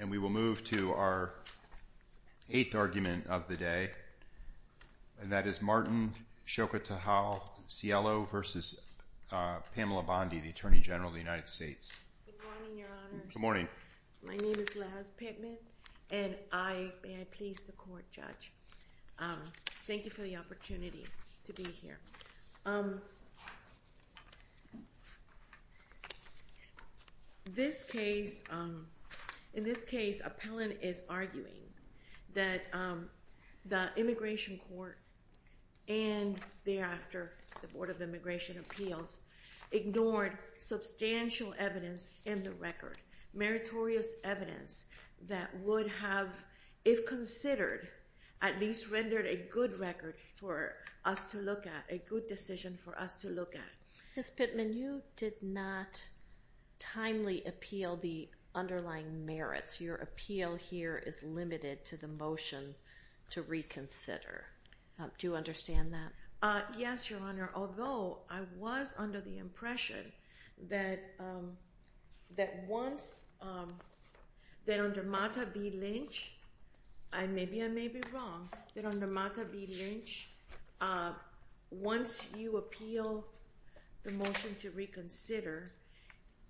And we will move to our eighth argument of the day. And that is Martin Xochitecatl-Cielo v. Pamela J. Bondi, the Attorney General of the United States. Good morning, Your Honors. Good morning. My name is Laz Pittman, and may I please the Court, Judge. Thank you for the opportunity to be here. This case, in this case, Appellant is arguing that the Immigration Court and thereafter the Board of Immigration Appeals ignored substantial evidence in the record, meritorious evidence that would have, if considered, at least rendered a good record for us to look at, a good decision for us to look at. Ms. Pittman, you did not timely appeal the underlying merits. Your appeal here is limited to the motion to reconsider. Do you understand that? Yes, Your Honor, although I was under the impression that once, that under Mata v. Lynch, and maybe I may be wrong, that under Mata v. Lynch, once you appeal the motion to reconsider,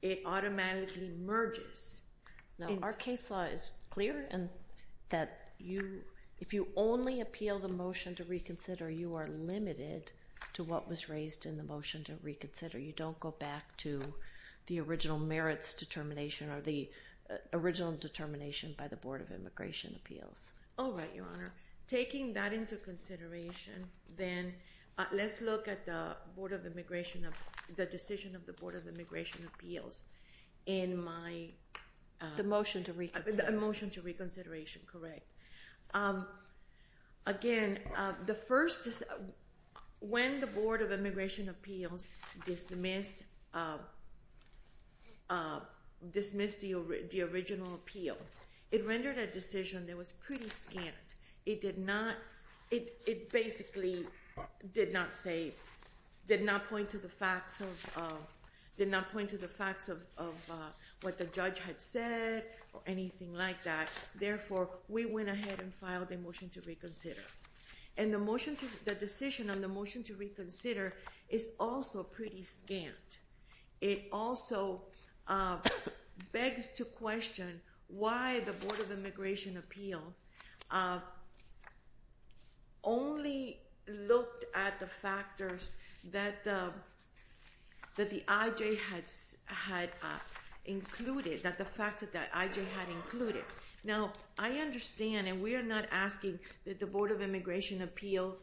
it automatically merges. No, our case law is clear in that you, if you only appeal the motion to reconsider, you are limited to what was raised in the motion to reconsider. You don't go back to the original merits determination or the original determination by the Board of Immigration Appeals. All right, Your Honor. Taking that into consideration, then let's look at the Board of Immigration, the decision of the Board of Immigration Appeals in my- The motion to reconsider. The motion to reconsideration, correct. Again, the first, when the Board of Immigration Appeals dismissed the original appeal, it rendered a decision that was pretty scant. It did not, it basically did not say, did not point to the facts of what the judge had said or anything like that. Therefore, we went ahead and filed a motion to reconsider. And the motion to, the decision on the motion to reconsider is also pretty scant. It also begs to question why the Board of Immigration Appeal only looked at the factors that the IJ had included, that the facts that the IJ had included. Now, I understand and we are not asking that the Board of Immigration Appeals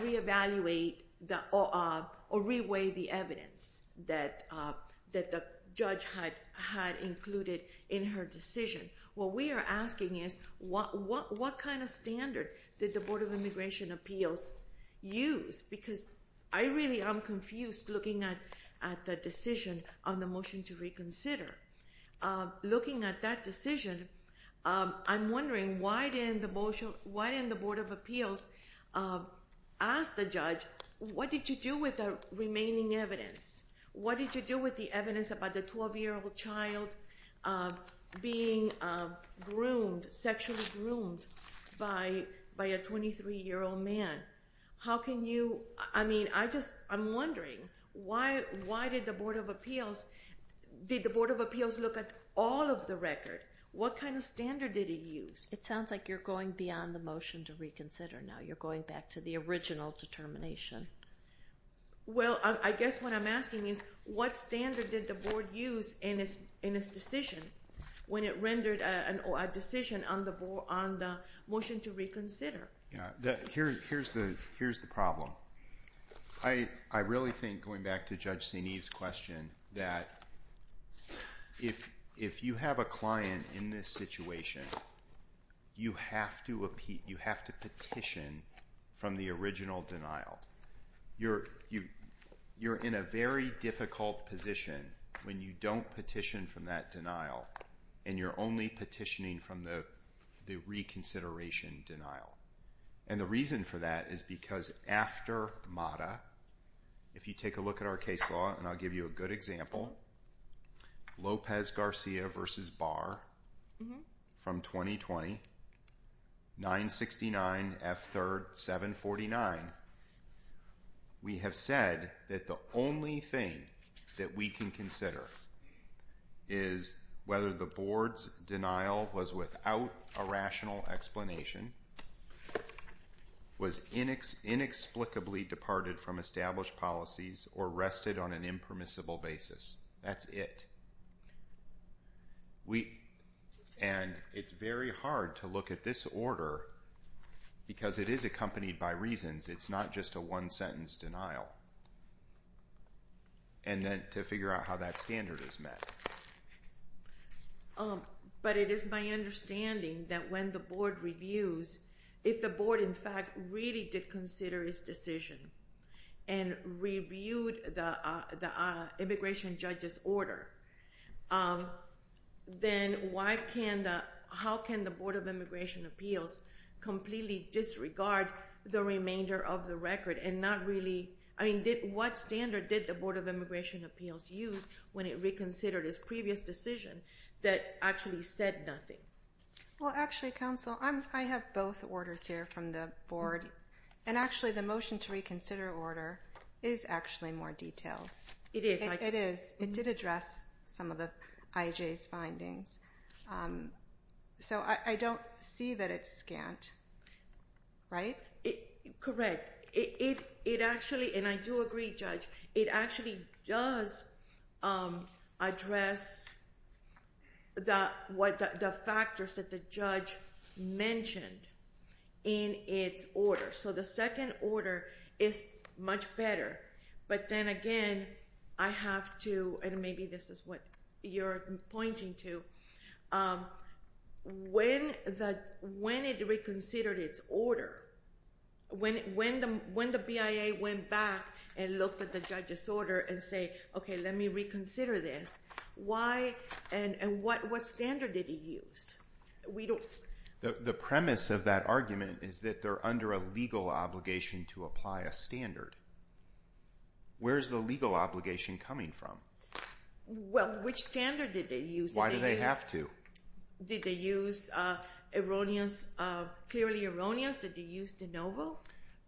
re-evaluate or re-weigh the evidence that the judge had included in her decision. What we are asking is what kind of standard did the Board of Immigration Appeals use? Because I really am confused looking at the decision on the motion to reconsider. Looking at that decision, I'm wondering why didn't the Board of Appeals ask the judge, what did you do with the remaining evidence? What did you do with the evidence about the 12-year-old child being groomed, sexually groomed by a 23-year-old man? How can you, I mean, I just, I'm wondering why did the Board of Appeals, did the Board of Appeals look at all of the record? What kind of standard did it use? It sounds like you're going beyond the motion to reconsider now. You're going back to the original determination. Well, I guess what I'm asking is what standard did the Board use in its decision when it rendered a decision on the motion to reconsider? Here's the problem. I really think, going back to Judge Saineev's question, that if you have a client in this situation, you have to petition from the original denial. You're in a very difficult position when you don't petition from that denial and you're only petitioning from the reconsideration denial. And the reason for that is because after MATA, if you take a look at our case law, and I'll give you a good example, Lopez-Garcia v. Barr from 2020, 969 F. 3rd, 749. We have said that the only thing that we can consider is whether the Board's denial was without a rational explanation, was inexplicably departed from established policies, or rested on an impermissible basis. That's it. And it's very hard to look at this order because it is accompanied by reasons. It's not just a one-sentence denial. And then to figure out how that standard is met. But it is my understanding that when the Board reviews, if the Board in fact really did consider its decision and reviewed the immigration judge's order, then how can the Board of Immigration Appeals completely disregard the remainder of the record and not really, I mean, what standard did the Board of Immigration Appeals use when it reconsidered its previous decision that actually said nothing? Well, actually, Counsel, I have both orders here from the Board. And actually, the motion to reconsider order is actually more detailed. It is. It is. It did address some of the I.J.'s findings. So I don't see that it's scant, right? Correct. It actually, and I do agree, Judge, it actually does address the factors that the judge mentioned in its order. So the second order is much better. But then again, I have to, and maybe this is what you're pointing to, when it reconsidered its order, when the BIA went back and looked at the judge's order and said, okay, let me reconsider this, why and what standard did it use? The premise of that argument is that they're under a legal obligation to apply a standard. Where is the legal obligation coming from? Well, which standard did they use? Why do they have to? Did they use erroneous, clearly erroneous? Did they use de novo?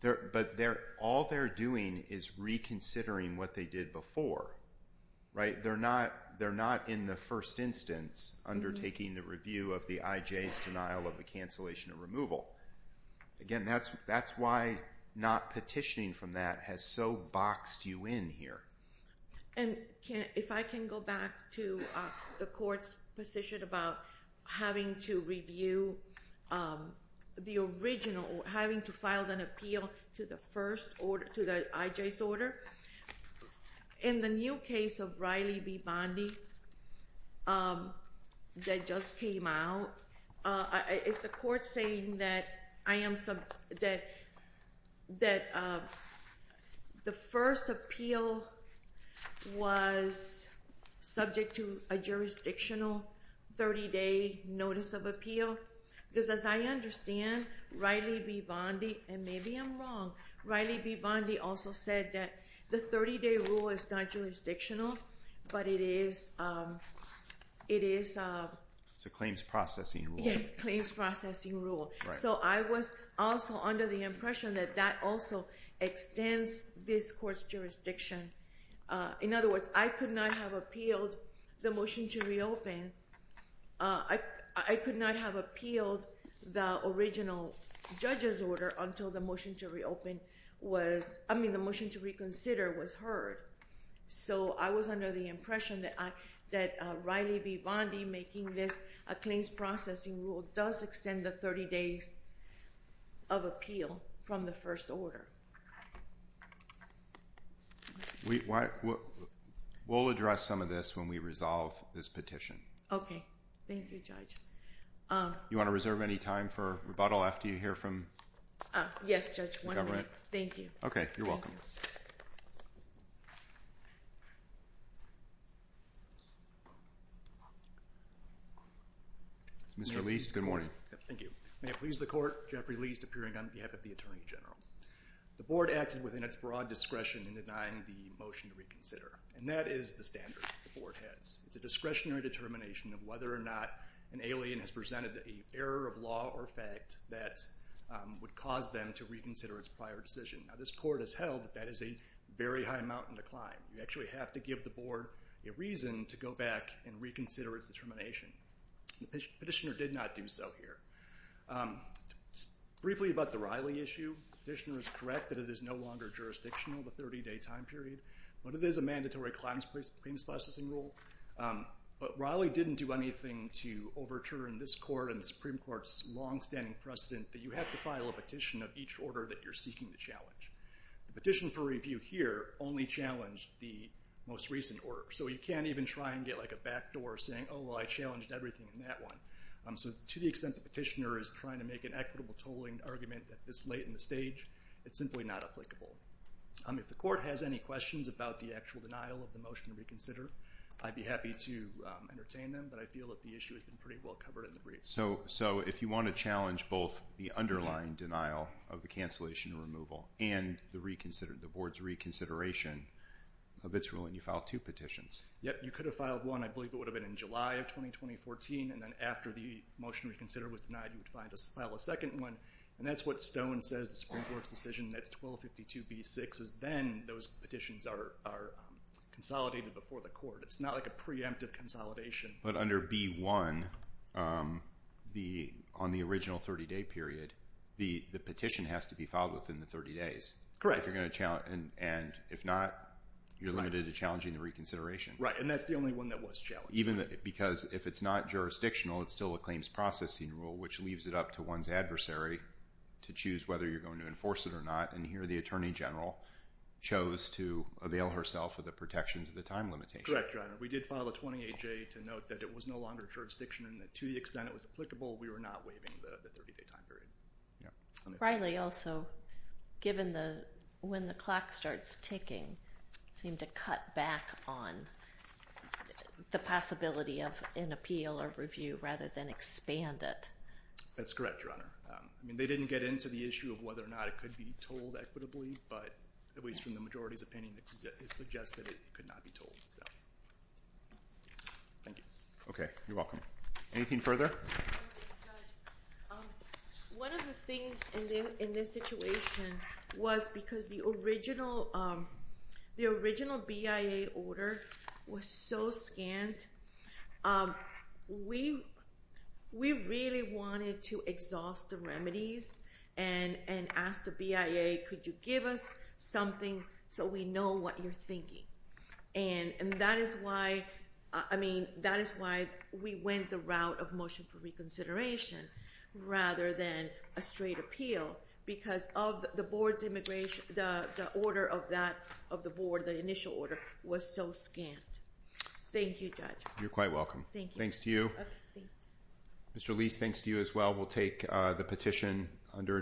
But all they're doing is reconsidering what they did before, right? They're not in the first instance undertaking the review of the I.J.'s denial of the cancellation of removal. Again, that's why not petitioning from that has so boxed you in here. And if I can go back to the court's position about having to review the original, having to file an appeal to the I.J.'s order. In the new case of Riley v. Bondi that just came out, is the court saying that the first appeal was subject to a jurisdictional 30-day notice of appeal? Because as I understand, Riley v. Bondi, and maybe I'm wrong, Riley v. Bondi also said that the 30-day rule is not jurisdictional, but it is... It's a claims processing rule. Yes, claims processing rule. So I was also under the impression that that also extends this court's jurisdiction. In other words, I could not have appealed the motion to reopen. I could not have appealed the original judge's order until the motion to reopen was, I mean, the motion to reconsider was heard. So I was under the impression that Riley v. Bondi making this a claims processing rule does extend the 30 days of appeal from the first order. We'll address some of this when we resolve this petition. Okay. Thank you, Judge. You want to reserve any time for rebuttal after you hear from the government? Yes, Judge, one minute. Thank you. Okay. You're welcome. Mr. Leist, good morning. Thank you. May it please the Court, Jeffrey Leist appearing on behalf of the Attorney General. The Board acted within its broad discretion in denying the motion to reconsider, and that is the standard the Board has. It's a discretionary determination of whether or not an alien has presented an error of law or fact that would cause them to reconsider its prior decision. Now, this Court has held that that is a very high mountain to climb. You actually have to give the Board a reason to go back and reconsider its determination. The petitioner did not do so here. Briefly about the Riley issue, the petitioner is correct that it is no longer jurisdictional, the 30-day time period, but it is a mandatory claims processing rule. But Riley didn't do anything to overturn this Court and the Supreme Court's longstanding precedent that you have to file a petition of each order that you're seeking to challenge. The petition for review here only challenged the most recent order, so you can't even try and get like a backdoor saying, oh, well, I challenged everything in that one. So to the extent the petitioner is trying to make an equitable tolling argument this late in the stage, it's simply not applicable. If the Court has any questions about the actual denial of the motion to reconsider, I'd be happy to entertain them, but I feel that the issue has been pretty well covered in the brief. So if you want to challenge both the underlying denial of the cancellation and removal and the reconsider, the Board's reconsideration of its ruling, you file two petitions? Yep, you could have filed one. I believe it would have been in July of 2020-2014, and then after the motion to reconsider was denied, you would file a second one, and that's what Stone says, the Supreme Court's decision, that's 1252b-6, is then those petitions are consolidated before the Court. It's not like a preemptive consolidation. But under b-1, on the original 30-day period, the petition has to be filed within the 30 days. Correct. And if not, you're limited to challenging the reconsideration. Right, and that's the only one that was challenged. Even because if it's not jurisdictional, it's still a claims processing rule, which leaves it up to one's adversary to choose whether you're going to enforce it or not, and here the Attorney General chose to avail herself of the protections of the time limitation. Correct, Your Honor. We did file a 28-J to note that it was no longer jurisdiction and that to the extent it was applicable, we were not waiving the 30-day time period. Riley also, given when the clock starts ticking, seemed to cut back on the possibility of an appeal or review rather than expand it. That's correct, Your Honor. I mean, they didn't get into the issue of whether or not it could be told equitably, but at least from the majority's opinion, it suggests that it could not be told. Thank you. Okay, you're welcome. Anything further? One of the things in this situation was because the original BIA order was so scant, we really wanted to exhaust the remedies and ask the BIA, could you give us something so we know what you're thinking? And that is why, I mean, that is why we went the route of motion for reconsideration rather than a straight appeal because of the Board's immigration, the order of that, of the Board, the initial order was so scant. Thank you, Judge. You're quite welcome. Thank you. Thanks to you. Mr. Leese, thanks to you as well. We'll take the petition under advisement.